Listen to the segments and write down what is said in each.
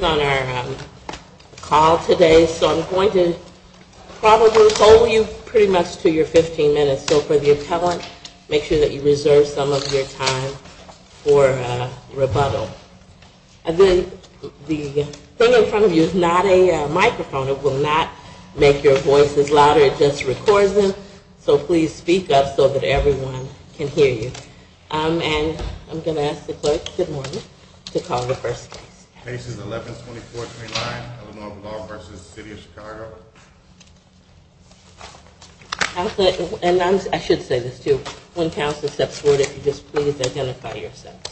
on our call today. So I'm going to probably hold you pretty much to your 15 minutes. So for the appellant, make sure that you reserve some of your time for rebuttal. The thing in front of you is not a microphone. It will not make your voices louder. It just records them. So please speak up so that everyone can hear you. And I'm going to ask the clerk, good morning, to call the first case. Case is 11-2429, Illinois Law v. City of Chicago. And I should say this, too. When counsel steps forward, if you just please identify yourself.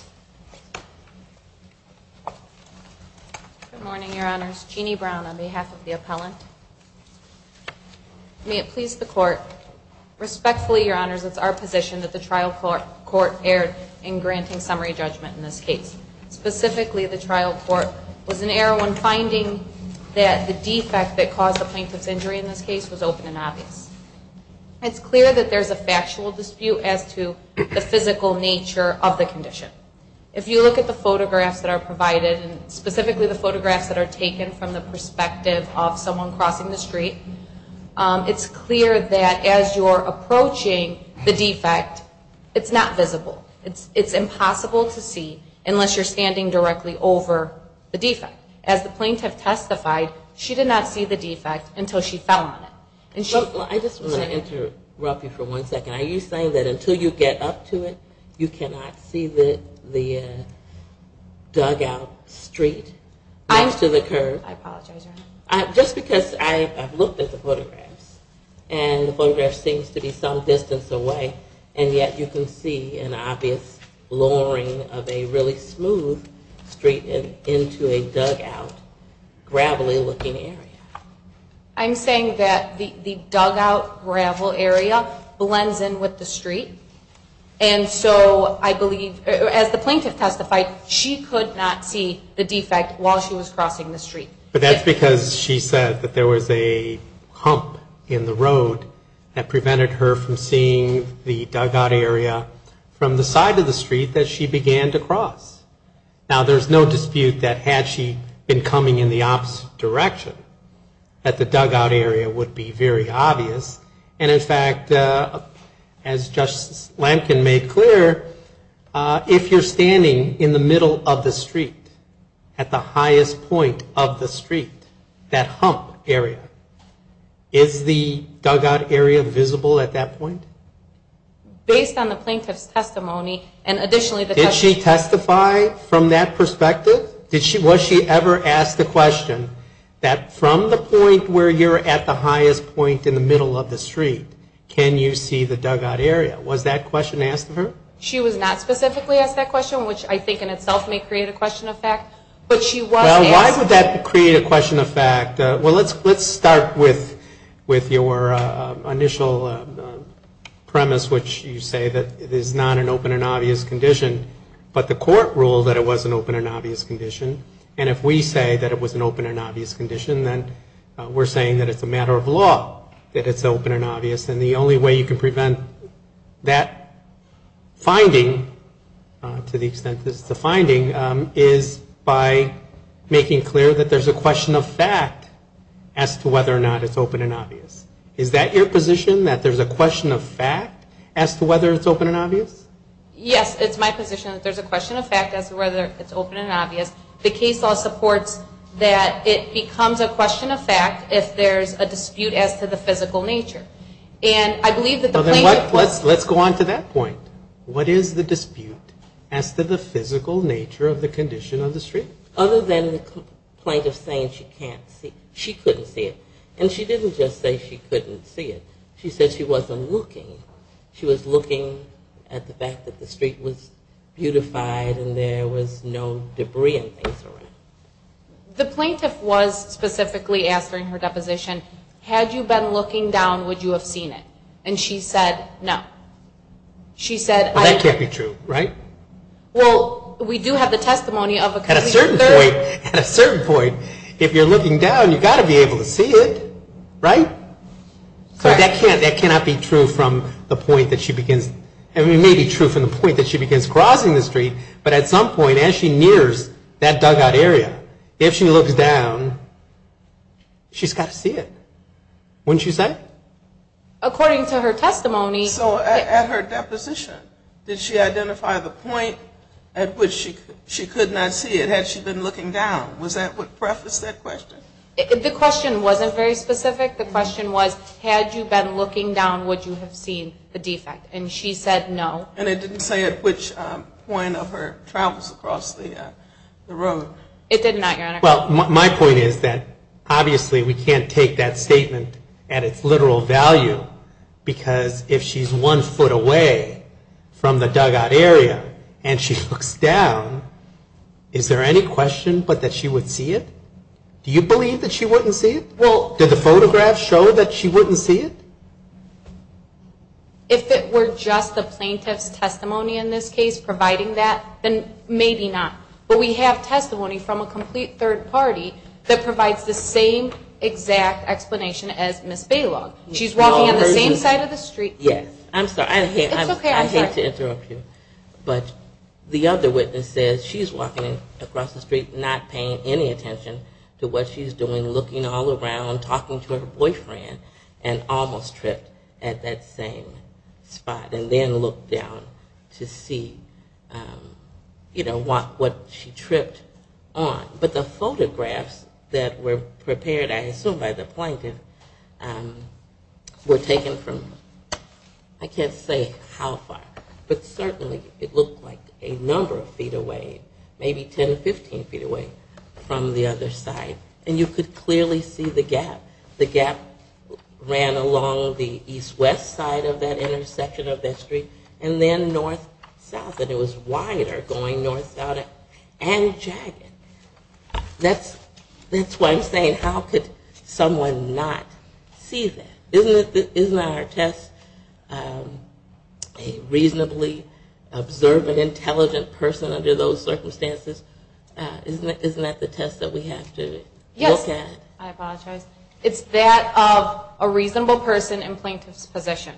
Good morning, your honors. Jeannie Brown on behalf of the appellant. May it please the court, respectfully, your honors, it's our position that the trial court erred in granting summary judgment in this case. Specifically, the trial court was an error when finding that the defect that caused the plaintiff's injury in this case was open and obvious. It's clear that there's a factual dispute as to the physical nature of the condition. If you look at the photographs that are provided, and specifically the photographs that are taken from the perspective of someone crossing the street, it's clear that as you're approaching the defect, it's not visible. It's impossible to see unless you're standing directly over the defect. As the plaintiff testified, she did not see the defect until she fell on it. I just want to interrupt you for one second. Are you saying that until you get up to it, you cannot see the dugout street next to the curb? I apologize, your honor. Just because I've looked at the photographs, and the photograph seems to be some distance away, and yet you can see an obvious lowering of a really smooth street into a dugout, gravelly looking area. I'm saying that the dugout gravel area blends in with the street, and so I believe, as the plaintiff testified, she could not see the defect while she was crossing the street. But that's because she said that there was a hump in the road that prevented her from seeing the dugout area from the side of the street that she began to cross. Now, there's no dispute that had she been coming in the opposite direction, that the dugout area would be very obvious. And in fact, as Justice Lamkin made clear, if you're standing in the middle of the street, at the highest point of the street, that hump area, is the dugout area visible at that point? Based on the plaintiff's testimony, and additionally the testimony Did she testify from that perspective? Was she ever asked the question that from the point where you're at the highest point in the middle of the street, can you see the dugout area? Was that question asked of her? She was not specifically asked that question, which I think in itself may create a question of fact, but she was asked Why would that create a question of fact? Well, let's start with your initial premise, which you say that it is not an open and obvious condition, but the court ruled that it was an open and obvious condition, and if we say that it was an open and obvious condition, then we're saying that it's a matter of law that it's open and obvious, and the only way you can prevent that finding, to the extent that it's a question of fact, is by making clear that there's a question of fact as to whether or not it's open and obvious. Is that your position, that there's a question of fact as to whether it's open and obvious? Yes, it's my position that there's a question of fact as to whether it's open and obvious. The case law supports that it becomes a question of fact if there's a dispute as to the physical nature, and I believe that the plaintiff Let's go on to that point. What is the dispute as to the physical nature of the condition of the street? Other than the plaintiff saying she can't see, she couldn't see it, and she didn't just say she couldn't see it. She said she wasn't looking. She was looking at the fact that the street was beautified and there was no debris and things around it. The plaintiff was specifically asked during her deposition, had you been looking down, would you have seen it? And she said, no. She said, well, we do have the testimony. At a certain point, at a certain point, if you're looking down, you've got to be able to see it, right? So that cannot be true from the point that she begins, it may be true from the point that she begins crossing the street, but at some point as she nears that dugout area, if she looks down, she's got to see it, wouldn't you say? According to her testimony So at her deposition, did she identify the point at which she could not see it, had she been looking down? Was that what prefaced that question? The question wasn't very specific. The question was, had you been looking down, would you have seen the defect? And she said, no. And it didn't say at which point of her travels across the road? It did not, Your Honor. Well, my point is that obviously we can't take that statement at its literal value, because if she's one foot away from the dugout area, and she looks down, is there any question but that she would see it? Do you believe that she wouldn't see it? Well, did the photograph show that she wouldn't see it? If it were just the plaintiff's testimony in this case providing that, then maybe not. But we have testimony from a complete third party that provides the same exact explanation as Ms. Balogh. She's walking on the same side of the street. Yes. I'm sorry. I hate to interrupt you. But the other witness says she's walking across the street not paying any attention to what she's doing, looking all around, talking to her boyfriend, and almost tripped at that same spot. And then looked down to see, you know, what she tripped on. But the fact that she was walking across the street, the photographs that were prepared, I assume, by the plaintiff were taken from I can't say how far, but certainly it looked like a number of feet away, maybe 10 or 15 feet away from the other side. And you could clearly see the gap. The gap ran along the east-west side of that intersection of that street, and then north-south. And it was wider going north-south and jagged. I don't know if it was that wide. That's why I'm saying how could someone not see that? Isn't our test a reasonably observant, intelligent person under those circumstances? Isn't that the test that we have to look at? Yes. I apologize. It's that of a reasonable person in plaintiff's position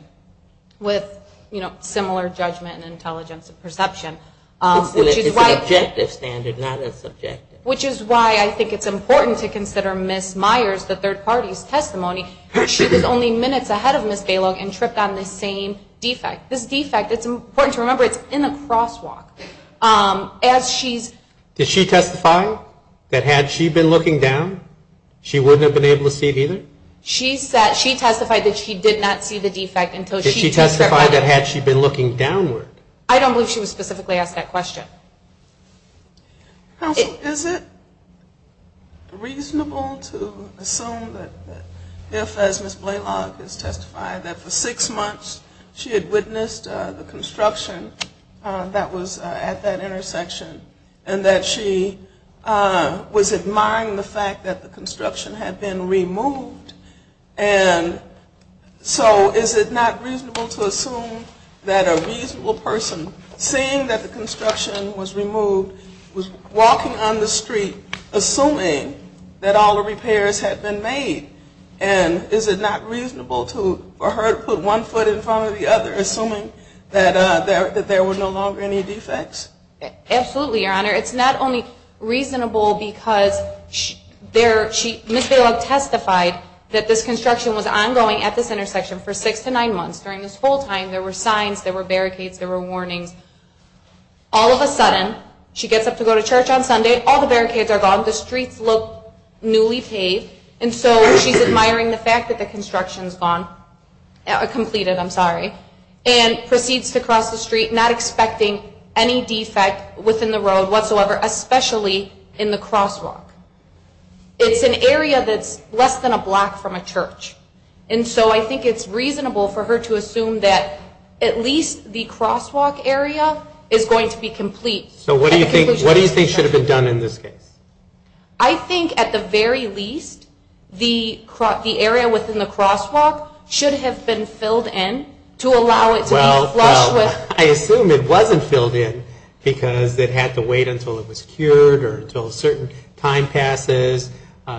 with, you know, a lot of evidence. That's why I think it's important to consider Ms. Myers, the third party's testimony. She was only minutes ahead of Ms. Balogh and tripped on the same defect. This defect, it's important to remember, it's in a crosswalk. As she's... Did she testify that had she been looking down, she wouldn't have been able to see it either? She testified that she did not see the defect until she... Did she testify that had she been looking downward? I don't believe she was specifically asked that question. Counsel, is it reasonable to assume that if, as Ms. Balogh has testified, that for six months she had witnessed the construction that was at that intersection and that she was admiring the fact that the construction was removed, that a reasonable person seeing that the construction was removed was walking on the street assuming that all the repairs had been made? And is it not reasonable for her to put one foot in front of the other assuming that there were no longer any defects? Absolutely, Your Honor. It's not only reasonable because Ms. Balogh testified that this construction was ongoing at this intersection for six to nine months. During this whole time, there were signs, there were barricades, there were warnings. All of a sudden, she gets up to go to church on Sunday, all the barricades are gone, the streets look newly paved, and so she's admiring the fact that the construction's gone, completed, I'm sorry, and proceeds to cross the street not expecting any defect within the road whatsoever, especially in the crosswalk. It's an area that's less than a block from a church, and so I think it's reasonable for her to assume that at least the crosswalk area is going to be complete. So what do you think should have been done in this case? I think at the very least, the area within the crosswalk should have been filled in to allow it to be flushed with... Well, I assume it wasn't filled in because it had to wait until it was cured or until a certain time passes.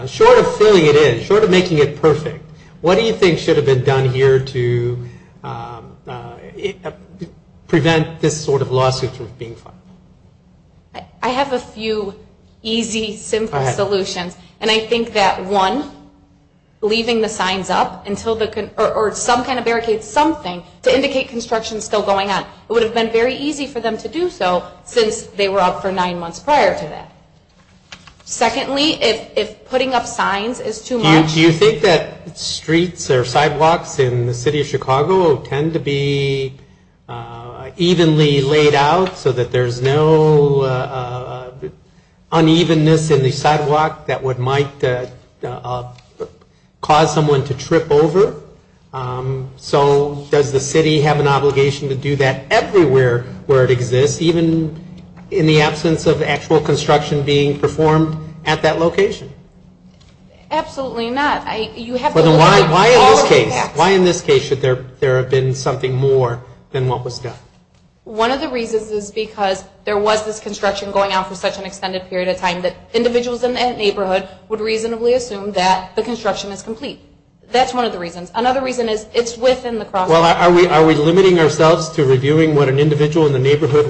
Short of filling it in, short of making it perfect, what do you think should have been done here to prevent this sort of lawsuit from being filed? I have a few easy, simple solutions, and I think that one, leaving the signs up or some kind of barricade, something, to indicate construction's still going on. It would have been very easy for them to do so since they were up for nine months prior to that. Secondly, if putting up signs is too much... Do you think that streets or sidewalks are sidewalks in the city of Chicago tend to be evenly laid out so that there's no unevenness in the sidewalk that might cause someone to trip over? So does the city have an obligation to do that everywhere where it exists, even in the absence of actual construction being performed at that location? Absolutely not. Why in this case should there have been something more than what was done? One of the reasons is because there was this construction going on for such an extended period of time that individuals in that neighborhood would reasonably assume that the construction is complete. That's one of the reasons. Another reason is it's within the crosswalk. Are we limiting ourselves to reviewing what an individual in the neighborhood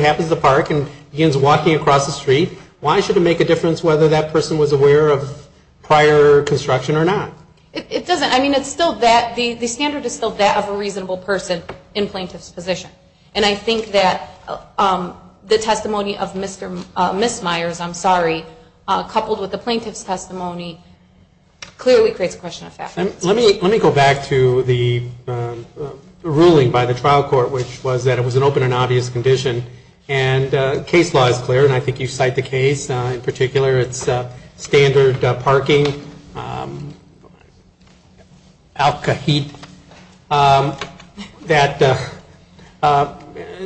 happens to park and begins walking across the street? Why should it make a difference whether that person was aware of prior construction or not? It doesn't. I mean, it's still that. The standard is still that of a reasonable person in plaintiff's position. And I think that the testimony of Ms. Myers, I'm sorry, coupled with the plaintiff's testimony clearly creates a question of fact. Let me go back to the ruling by the plaintiff's attorney. And the case law is clear. And I think you cite the case in particular. It's standard parking.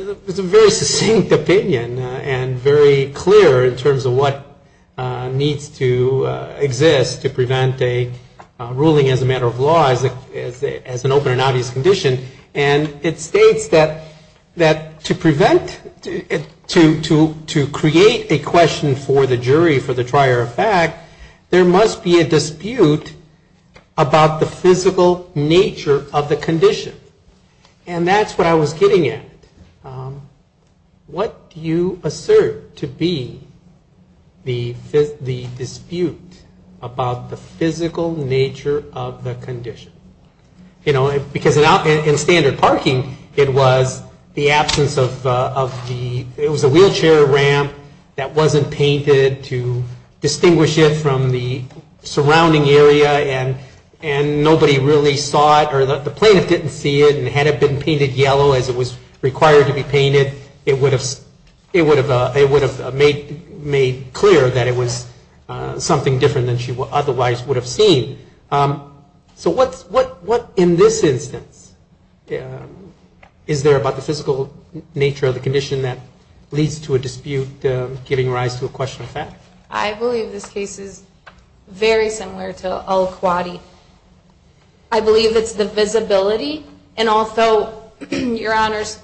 It's a very succinct opinion and very clear in terms of what needs to exist to prevent a ruling as a matter of law as an open and obvious condition. And it states that to prevent a ruling as a matter of law, to create a question for the jury for the trier of fact, there must be a dispute about the physical nature of the condition. And that's what I was getting at. What do you assert to be the dispute about the physical nature of the condition? Because in standard parking, it was the absence of the, it was a wheelchair ramp that wasn't painted to distinguish it from the surrounding area and nobody really saw it or the plaintiff didn't see it and had it been painted yellow as it was required to be painted, it would have made clear that it was something different than she otherwise would have seen. So what in this instance is there about the physical nature of the condition that leads to a dispute giving rise to a question of fact? I believe this case is very similar to Al-Khwati. I believe it's the visibility and also, your honors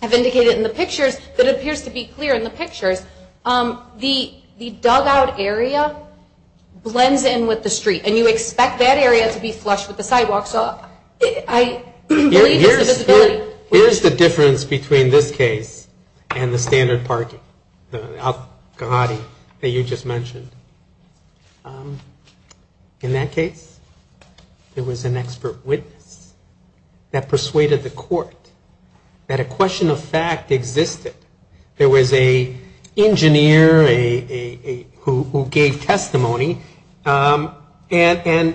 have indicated in the pictures, it appears to be clear in the pictures, the dugout area, the dugout area, that's where the sidewalk blends in with the street. And you expect that area to be flush with the sidewalk. So I believe it's the visibility. Here's the difference between this case and the standard parking, the Al-Khwati that you just mentioned. In that case, there was an expert witness that persuaded the court that a question of fact existed. There was an engineer who gave testimony to the court that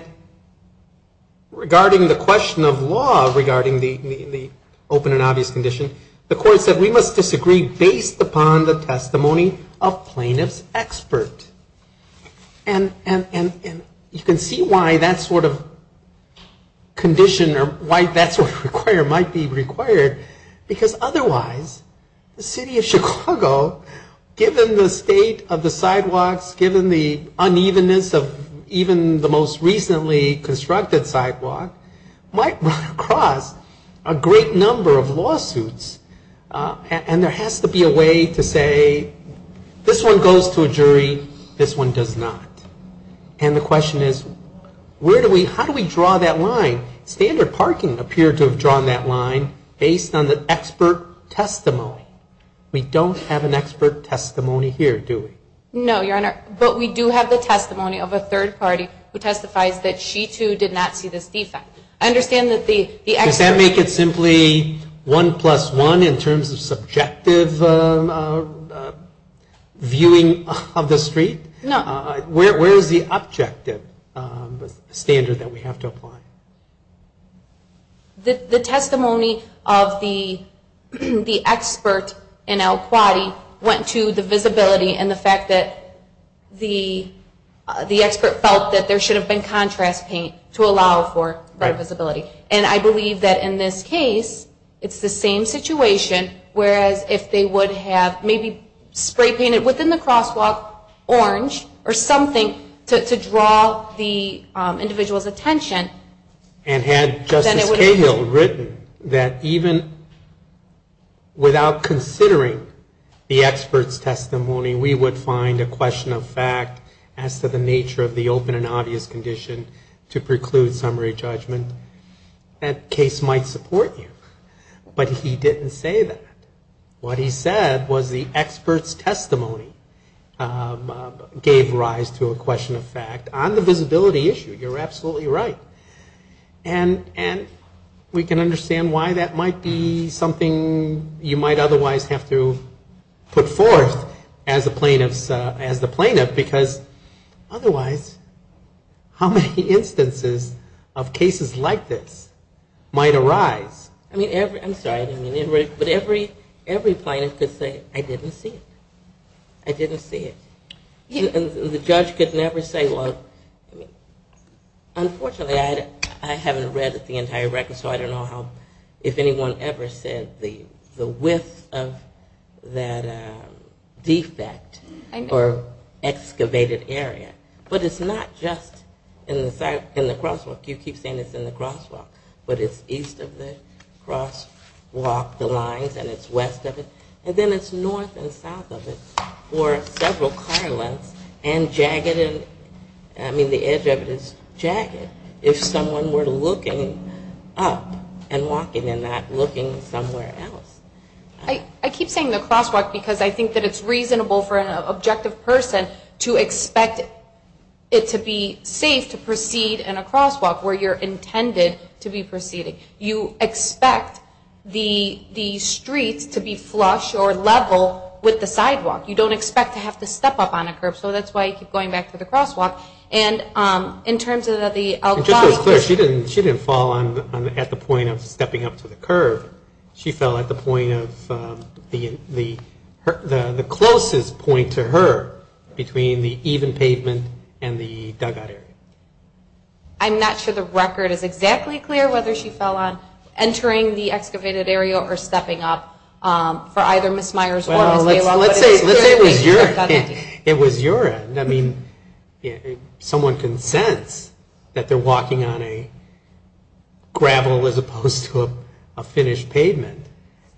there was a question of fact in the testimony. And regarding the question of law, regarding the open and obvious condition, the court said we must disagree based upon the testimony of plaintiff's expert. And you can see why that sort of condition or why that sort of requirement might be required, because otherwise, the city of Chicago, given the state of the sidewalks, given the unevenness of even the most recently constructed sidewalk, might run across a great number of lawsuits. And there has to be a way to say this one goes to a jury, this one does not. And the question is, how do we make sure to have drawn that line based on the expert testimony? We don't have an expert testimony here, do we? No, Your Honor. But we do have the testimony of a third party who testifies that she, too, did not see this defect. I understand that the expert... Does that make it simply 1 plus 1 in terms of subjective viewing of the street? No. Where is the objective standard that we have to apply? The objective standard that we have to apply is the testimony of the expert in El Quadi went to the visibility and the fact that the expert felt that there should have been contrast paint to allow for that visibility. And I believe that in this case, it's the same situation, whereas if they would have maybe spray-painted within the crosswalk orange or something to draw the individual's attention... And had Justice Cahill reviewed it... Then it would have been the same situation. And he would have written that even without considering the expert's testimony, we would find a question of fact as to the nature of the open and obvious condition to preclude summary judgment. That case might support you. But he didn't say that. What he said was the expert's testimony gave rise to a question of fact on the visibility issue. You're absolutely right. And we can't do that. And I can understand why that might be something you might otherwise have to put forth as the plaintiff, because otherwise, how many instances of cases like this might arise? I'm sorry, but every plaintiff could say, I didn't see it. I didn't see it. And the judge could never say, well, unfortunately, I haven't read the entire record, so I don't know if anyone ever said the width of that defect or excavated area. But it's not just in the crosswalk. You keep saying it's in the crosswalk. But it's east of the crosswalk, the lines, and it's west of it. And then it's north and south of it, or several car lengths and jagged. I mean, the edge of it is jagged. If someone were to look in the crosswalk, it would have been jagged. But it's up and walking and not looking somewhere else. I keep saying the crosswalk because I think that it's reasonable for an objective person to expect it to be safe to proceed in a crosswalk where you're intended to be proceeding. You expect the streets to be flush or level with the sidewalk. You don't expect to have to step up on a curb, so that's why you keep going back to the crosswalk. And in terms of the record, when she fell at the point of stepping up to the curb, she fell at the point of the closest point to her between the even pavement and the dugout area. I'm not sure the record is exactly clear whether she fell on entering the excavated area or stepping up for either Ms. Myers or Ms. Maylow. Let's say it was your end. I mean, someone can sense that they're walking on a gravel as opposed to a finished pavement,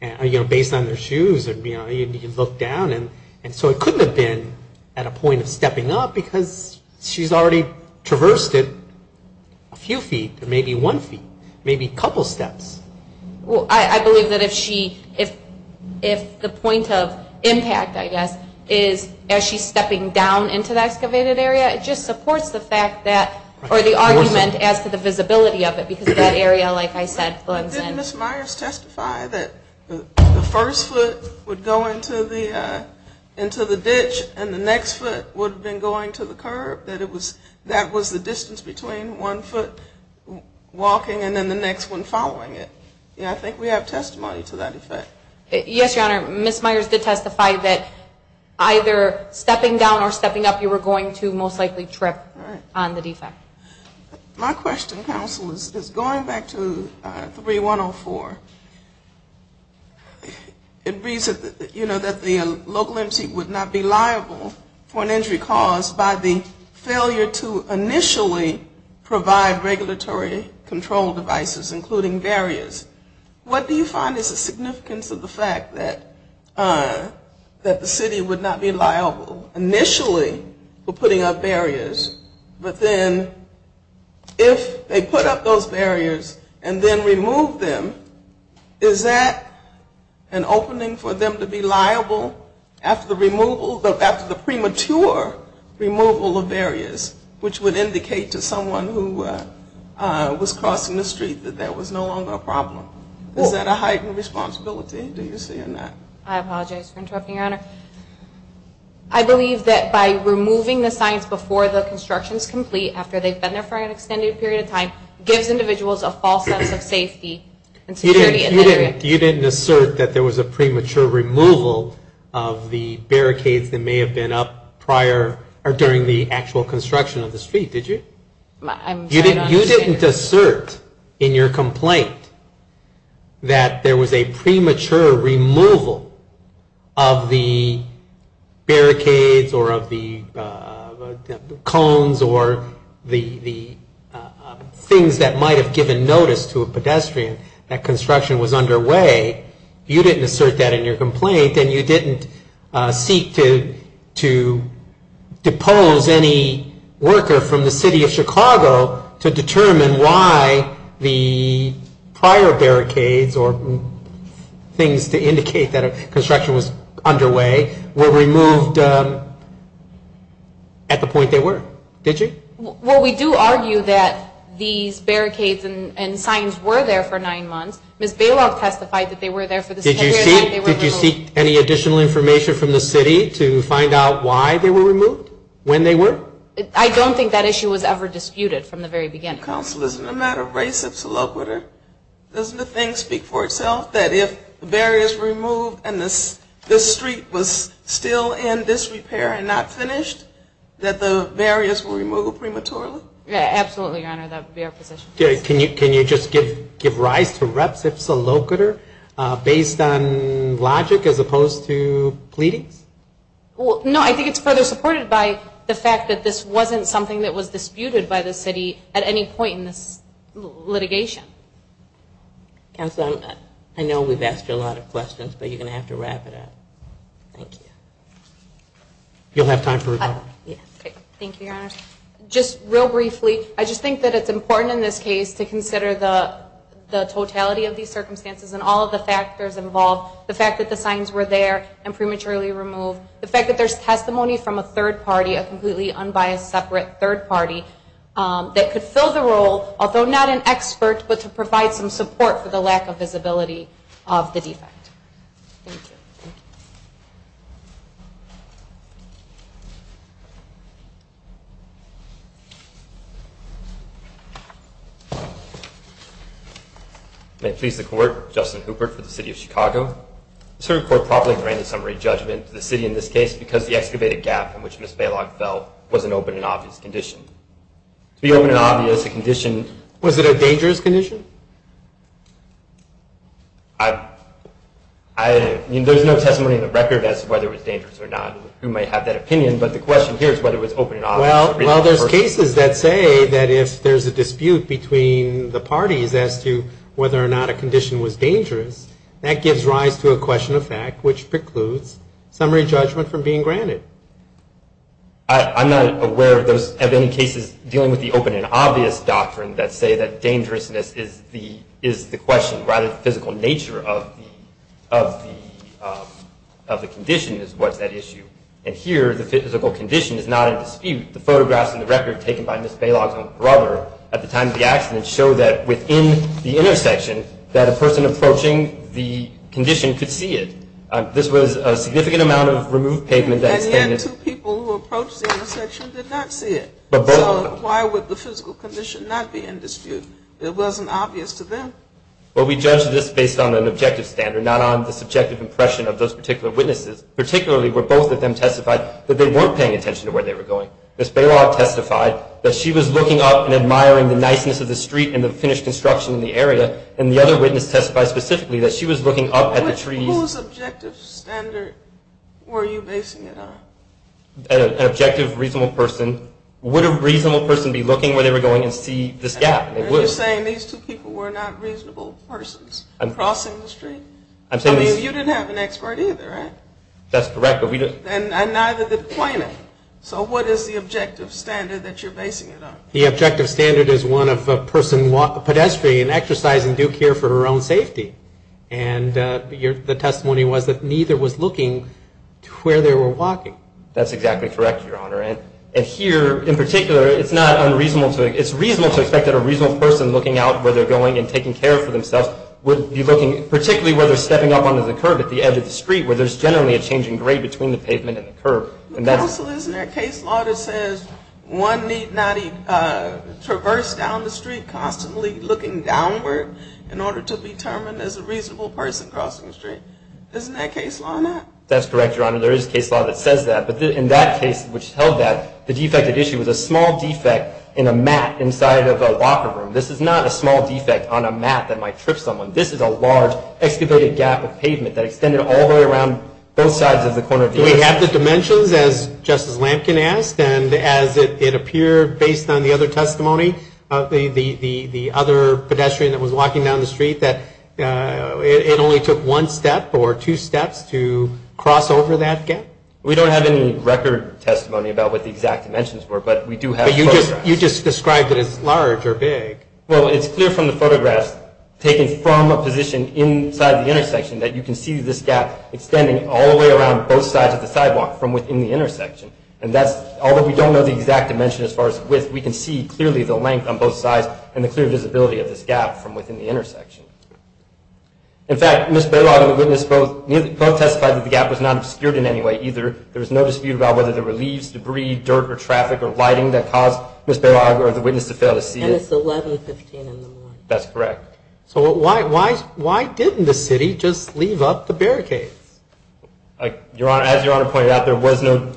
based on their shoes. You look down, and so it couldn't have been at a point of stepping up because she's already traversed it a few feet or maybe one feet, maybe a couple steps. Well, I believe that if the point of impact, I guess, is as she's stepping down into the excavated area, it just supports the argument as to the visibility of it, because that area, like I said, blends in. Didn't Ms. Myers testify that the first foot would go into the ditch and the next foot would have been going to the curb, that that was the distance between one foot walking and then the next one following it? I think we have testimony to that effect. Yes, Your Honor, Ms. Myers did testify that either stepping down or stepping up, you were going to most likely trip on the defect. My question, counsel, is going back to 3104. It reads that the local MC would not be liable for an injury caused by the failure to initially provide regulatory control devices, including barriers. What do you find is the significance of the fact that the city would not be liable initially for putting up barriers, but then if they put up those barriers and then remove them, is that an opening for them to be liable after the removal, after the premature removal of barriers, which would indicate to someone who was crossing the street that that was no longer a problem? Is that a heightened responsibility, do you see in that? I apologize for interrupting, Your Honor. I believe that by removing the signs before the construction is complete, after they've been there for an extended period of time, gives individuals a false sense of safety and security. You didn't assert that there was a premature removal of the barricades that may have been up prior or during the actual construction of the street, did you? You didn't assert in your complaint that there was a premature removal of the barriers that may have been up prior or during the actual construction of the street, did you? You didn't assert that there was a premature removal of the barricades or of the cones or the things that might have given notice to a pedestrian that construction was underway. You didn't assert that in your complaint, and you didn't seek to depose any worker from the city of Chicago to determine why the prior barricades or things to determine why the prior barricades or things to determine why the construction was underway were removed at the point they were, did you? Well, we do argue that these barricades and signs were there for nine months. Ms. Bailoff testified that they were there for the same period of time they were removed. Did you seek any additional information from the city to find out why they were removed, when they were? I don't think that issue was ever disputed from the very beginning. Counsel, isn't it a matter of race if it's a low-gooder and this street was still in disrepair and not finished, that the barriers were removed prematurely? Yeah, absolutely, your honor, that would be our position. Can you just give rise to reps if it's a low-gooder, based on logic as opposed to pleadings? Well, no, I think it's further supported by the fact that this wasn't something that was disputed by the city at any point in this litigation. Counsel, I know we've asked you a lot of questions, but you're going to have to respond to them. Is there any other questions that you'd like to wrap it up? Thank you. You'll have time for rebuttal. Thank you, your honor. Just real briefly, I just think that it's important in this case to consider the totality of these circumstances and all of the factors involved, the fact that the signs were there and prematurely removed, the fact that there's testimony from a third party, a completely unbiased separate third party, that could fill the role, although not an expert, but to provide some support for the lack of visibility of the fact. Thank you. Thank you. May it please the Court, Justin Hooper for the City of Chicago. The Supreme Court probably granted some re-judgment to the city in this case because the excavated gap in which Ms. Balog fell was an open and obvious condition. To be open and obvious, a condition, was it a dangerous condition? I don't think it was a dangerous condition. I think it was a dangerous condition. There's no testimony in the record as to whether it was dangerous or not. We might have that opinion, but the question here is whether it was open and obvious. Well, there's cases that say that if there's a dispute between the parties as to whether or not a condition was dangerous, that gives rise to a question of fact, which precludes summary judgment from being granted. I'm not aware of any cases dealing with the open and obvious doctrine that say that dangerousness is the question, rather the physical nature of the condition is what's at issue. And here, the physical condition is not at dispute. The photographs in the record taken by Ms. Balog's brother at the time of the accident show that within the intersection, that a person approaching the condition could see it. This was a significant amount of removed pavement. And yet two people who approached the intersection did not see it. So why would the physical condition not be in dispute? It wasn't obvious to them. Well, we judge this based on an objective standard, not on the subjective impression of those particular witnesses, particularly where both of them testified that they weren't paying attention to where they were going. Ms. Balog testified that she was looking up and admiring the niceness of the street and the finished construction in the area. And the other witness testified specifically that she was looking up at the trees. Whose objective standard were you basing it on? An objective, reasonable person. Would a reasonable person be looking where they were going and see this gap? You're saying these two people were not reasonable persons crossing the street? I mean, you didn't have an expert either, right? That's correct. And neither did the plaintiff. So what is the objective standard that you're basing it on? The objective standard is one of a person pedestrian exercising due care for her own safety. And the testimony was that neither was looking where they were walking. That's exactly correct, Your Honor. And here, in particular, it's reasonable to expect that a reasonable person looking out where they're going and taking care for themselves would be looking, particularly where they're stepping up onto the curb at the edge of the street, where there's generally a change in grade between the pavement and the curb. Counsel, isn't there a case law that says one need not traverse down the street constantly looking downward in order to be determined as a reasonable person crossing the street? Isn't that case law or not? That's correct, Your Honor. There is a case law that says that. But in that case which held that, the defected issue was a small defect in a mat inside of a locker room. This is not a small defect on a mat that might trip someone. This is a large excavated gap of pavement that extended all the way around both sides of the corner of the street. Do we have the dimensions, as Justice Lampkin asked, and as it appeared based on the other testimony, the other pedestrian that was walking down the street, that it only took one step or two steps to cross over that gap? We don't have any record testimony about what the exact dimensions were, but we do have photographs. But you just described it as large or big. Well, it's clear from the photographs taken from a position inside the intersection that you can see this gap extending all the way around both sides of the sidewalk from within the intersection. And that's, although we don't know the exact dimension as far as width, we can see clearly the length on both sides and the clear visibility of this gap from within the intersection. In fact, Ms. Bailar, I don't know if you can see it that way either. There is no dispute about whether there were leaves, debris, dirt or traffic or lighting that caused Ms. Bailar or the witness to fail to see it. And it's 1115 in the morning. That's correct. So why didn't the city just leave up the barricades? As Your Honor pointed out, there was no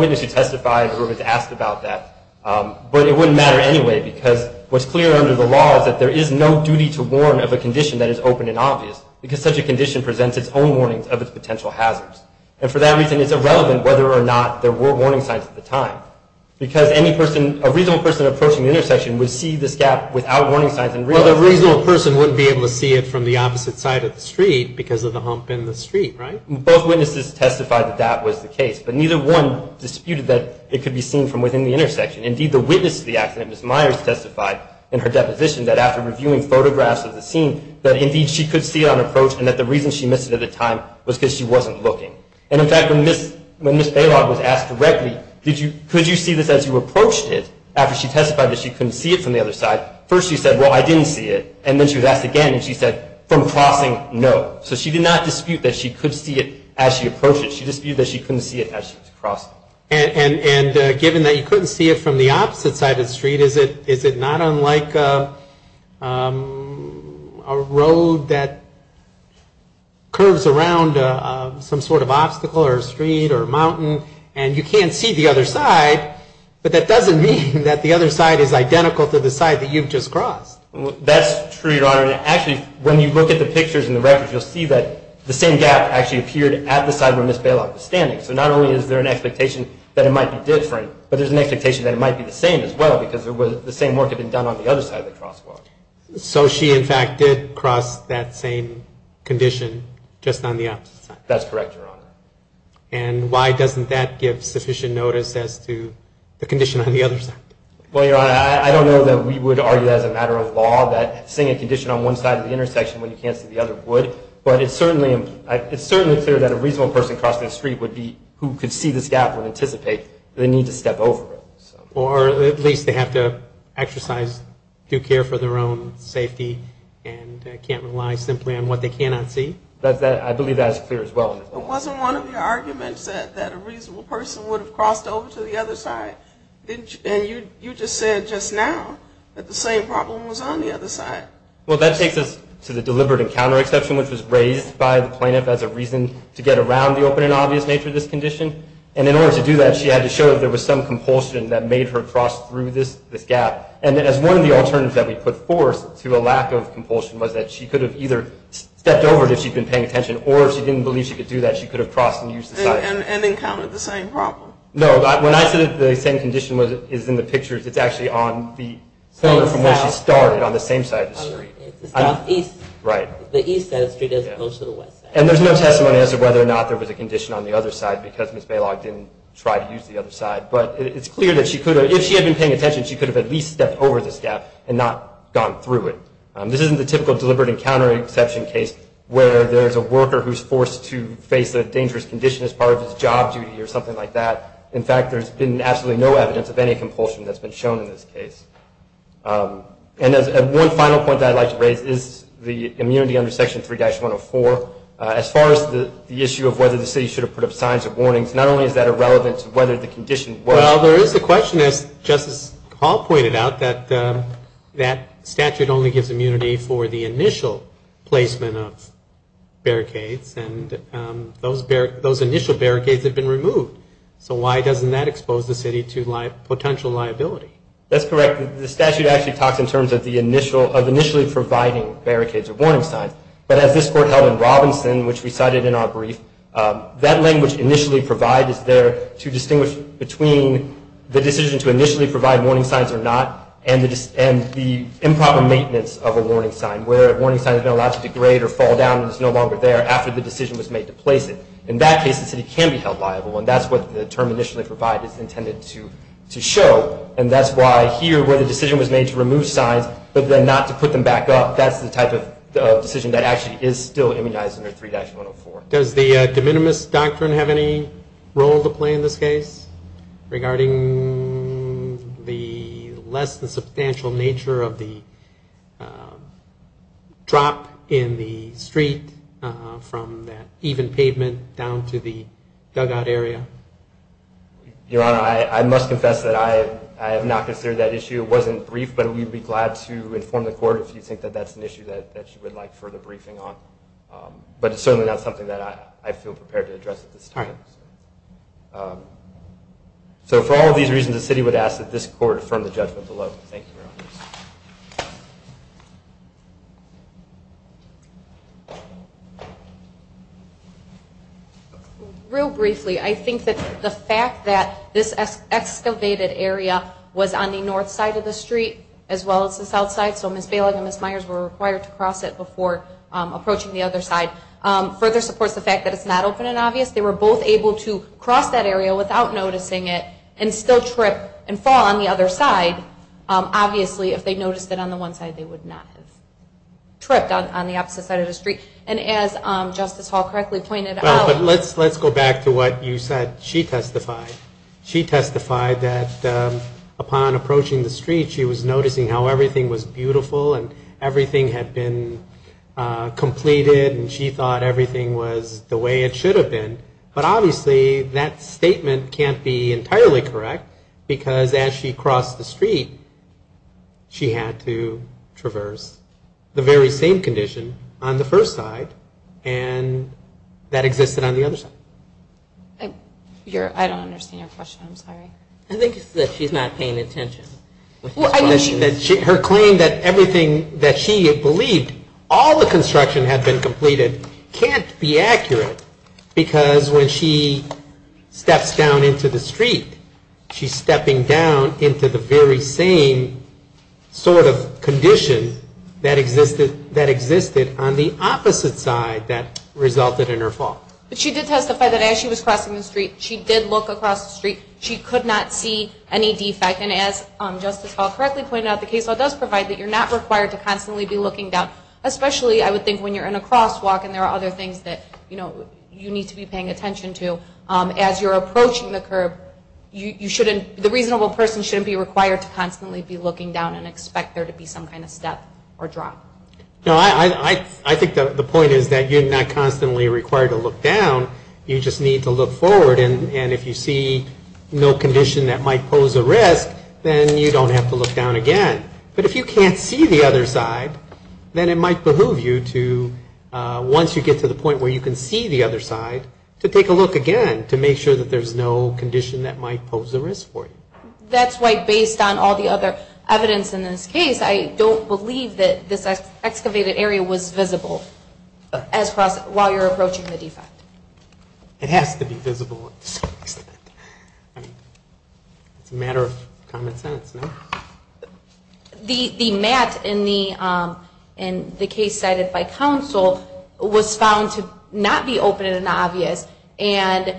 witness who testified who was asked about that. But it wouldn't matter anyway, because what's clear under the law is that there is no duty to warn of a condition that is open and obvious, because such a condition is open. And for that reason, it's irrelevant whether or not there were warning signs at the time. Because any person, a reasonable person approaching the intersection would see this gap without warning signs. Well, the reasonable person wouldn't be able to see it from the opposite side of the street because of the hump in the street, right? Both witnesses testified that that was the case, but neither one disputed that it could be seen from within the intersection. Indeed, the witness to the accident, Ms. Myers, testified in her deposition that after reviewing photographs of the scene that indeed she could see it on approach and that the reason she missed it at the time was because she wasn't looking. And in fact, when Ms. Bailogh was asked directly, could you see this as you approached it, after she testified that she couldn't see it from the other side, first she said, well, I didn't see it. And then she was asked again, and she said, from crossing, no. So she did not dispute that she could see it as she approached it. She disputed that she couldn't see it as she was crossing. And given that you couldn't see it from the opposite side of the street, is it not unlike a road that curves around some sort of obstacle or street or mountain, and you can't see the other side, but that doesn't mean that the other side is identical to the side that you've just crossed? That's true, Your Honor. Actually, when you look at the pictures and the records, you'll see that the same gap actually appeared at the side where Ms. Bailogh was standing. So not only is there an expectation that it might be different, but there's an expectation that it might be the same as well because the same work had been done on the other side of the crosswalk. So she, in fact, crossed that same condition just on the opposite side. That's correct, Your Honor. And why doesn't that give sufficient notice as to the condition on the other side? Well, Your Honor, I don't know that we would argue that as a matter of law that seeing a condition on one side of the intersection when you can't see the other would, but it's certainly clear that a reasonable person crossing the street would be who could see this gap and anticipate the need to step over it. Or at least they have to exercise due care for their own safety and can't rely simply on what they cannot see. I believe that is clear as well. It wasn't one of your arguments that a reasonable person would have crossed over to the other side, and you just said just now that the same problem was on the other side. Well, that takes us to the deliberate encounter exception, which was raised by the plaintiff as a reason to get around the open and obvious nature of this condition. And in order to do that, she had to show that there was some compulsion that made her believe that she could have stepped over it if she had been paying attention, or if she didn't believe she could do that, she could have crossed and used the side. And encountered the same problem? No, when I said that the same condition is in the pictures, it's actually on the corner from where she started on the same side of the street. It's the southeast. Right. The east side of the street as opposed to the west side. And there's no testimony as to whether or not there was a condition on the other side because Ms. Balog didn't try to use the other side. But it's clear that if she had been paying attention, she could have at least stepped over this gap and not gone through it. This isn't the typical deliberate encounter exception case where there's a worker who's forced to face a dangerous condition as part of his job duty or something like that. In fact, there's been absolutely no evidence of any compulsion that's been shown in this case. And one final point that I'd like to raise is the immunity under Section 3-104. As far as the issue of whether the city should have put up signs or warnings, not only is that irrelevant to whether the condition was... Well, there is a question, as Justice Hall pointed out, that that statute only gives immunity for the initial placement of barricades. And those initial barricades have been removed. So why doesn't that expose the city to potential liability? That's correct. The statute actually talks in terms of initially providing barricades or warning signs. But as this Court held in Robinson, which we cited in our brief, that language, initially provide, is there to distinguish between the barricades or warning signs, between the decision to initially provide warning signs or not, and the improper maintenance of a warning sign, where a warning sign has been allowed to degrade or fall down and is no longer there after the decision was made to place it. In that case, the city can be held liable. And that's what the term initially provided is intended to show. And that's why here, where the decision was made to remove signs but then not to put them back up, that's the type of decision that actually is still immunized under 3-104. Is that regarding the less than substantial nature of the drop in the street from that even pavement down to the dugout area? Your Honor, I must confess that I have not considered that issue. It wasn't briefed, but we'd be glad to inform the Court if you think that that's an issue that you would like further briefing on. But it's certainly not something that I feel prepared to comment on. And for all of these reasons, the city would ask that this Court affirm the judgment below. Real briefly, I think that the fact that this excavated area was on the north side of the street as well as the south side, so Ms. Balogh and Ms. Myers were required to cross it before approaching the other side, further supports the fact that it's not open and they still trip and fall on the other side. Obviously, if they noticed it on the one side, they would not have tripped on the opposite side of the street. And as Justice Hall correctly pointed out... Let's go back to what you said she testified. She testified that upon approaching the street, she was noticing how everything was beautiful and everything had been completed and she thought everything was the way it should have been. But obviously, that statement can't be entirely correct because as she crossed the street, she had to traverse the very same condition on the first side and that existed on the other side. I don't understand your question. I'm sorry. I think it's that she's not paying attention. Her claim that everything that she had believed, all the construction had been completed, can't be accurate because when she steps down into the street, she's stepping down into the very same sort of condition that existed on the opposite side that resulted in her fall. But she did testify that as she was crossing the street, she did look across the street. She could not see any defect. And as Justice Hall correctly pointed out, the case law does provide that you're not required to constantly be looking down, especially, I would think, when you're in a crosswalk and there are other things that, you know, you need to be paying attention to. As you're approaching the curb, you shouldn't, the reasonable person shouldn't be required to constantly be looking down and expect there to be some kind of step or drop. You don't have to look down. You just need to look forward and if you see no condition that might pose a risk, then you don't have to look down again. But if you can't see the other side, then it might behoove you to, once you get to the point where you can see the other side, to take a look again to make sure that there's no condition that might pose a risk for you. That's why, based on all the other evidence in this case, I don't believe that this excavated area was visible while you're approaching the defect. It has to be visible to some extent. It's a matter of common sense, no? The map in the case cited by counsel was found to not be open and obvious and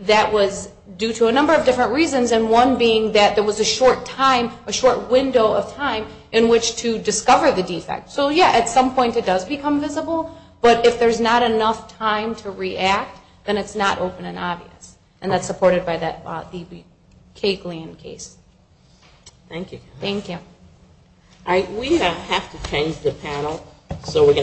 that was due to a number of different reasons, and one being that there was a short time, a short window of time in which to discover the defect. So yeah, at some point it does become visible, but if there's not enough time to react, then it's not open and obvious. And that's supported by that D.B. Caglean case. Thank you.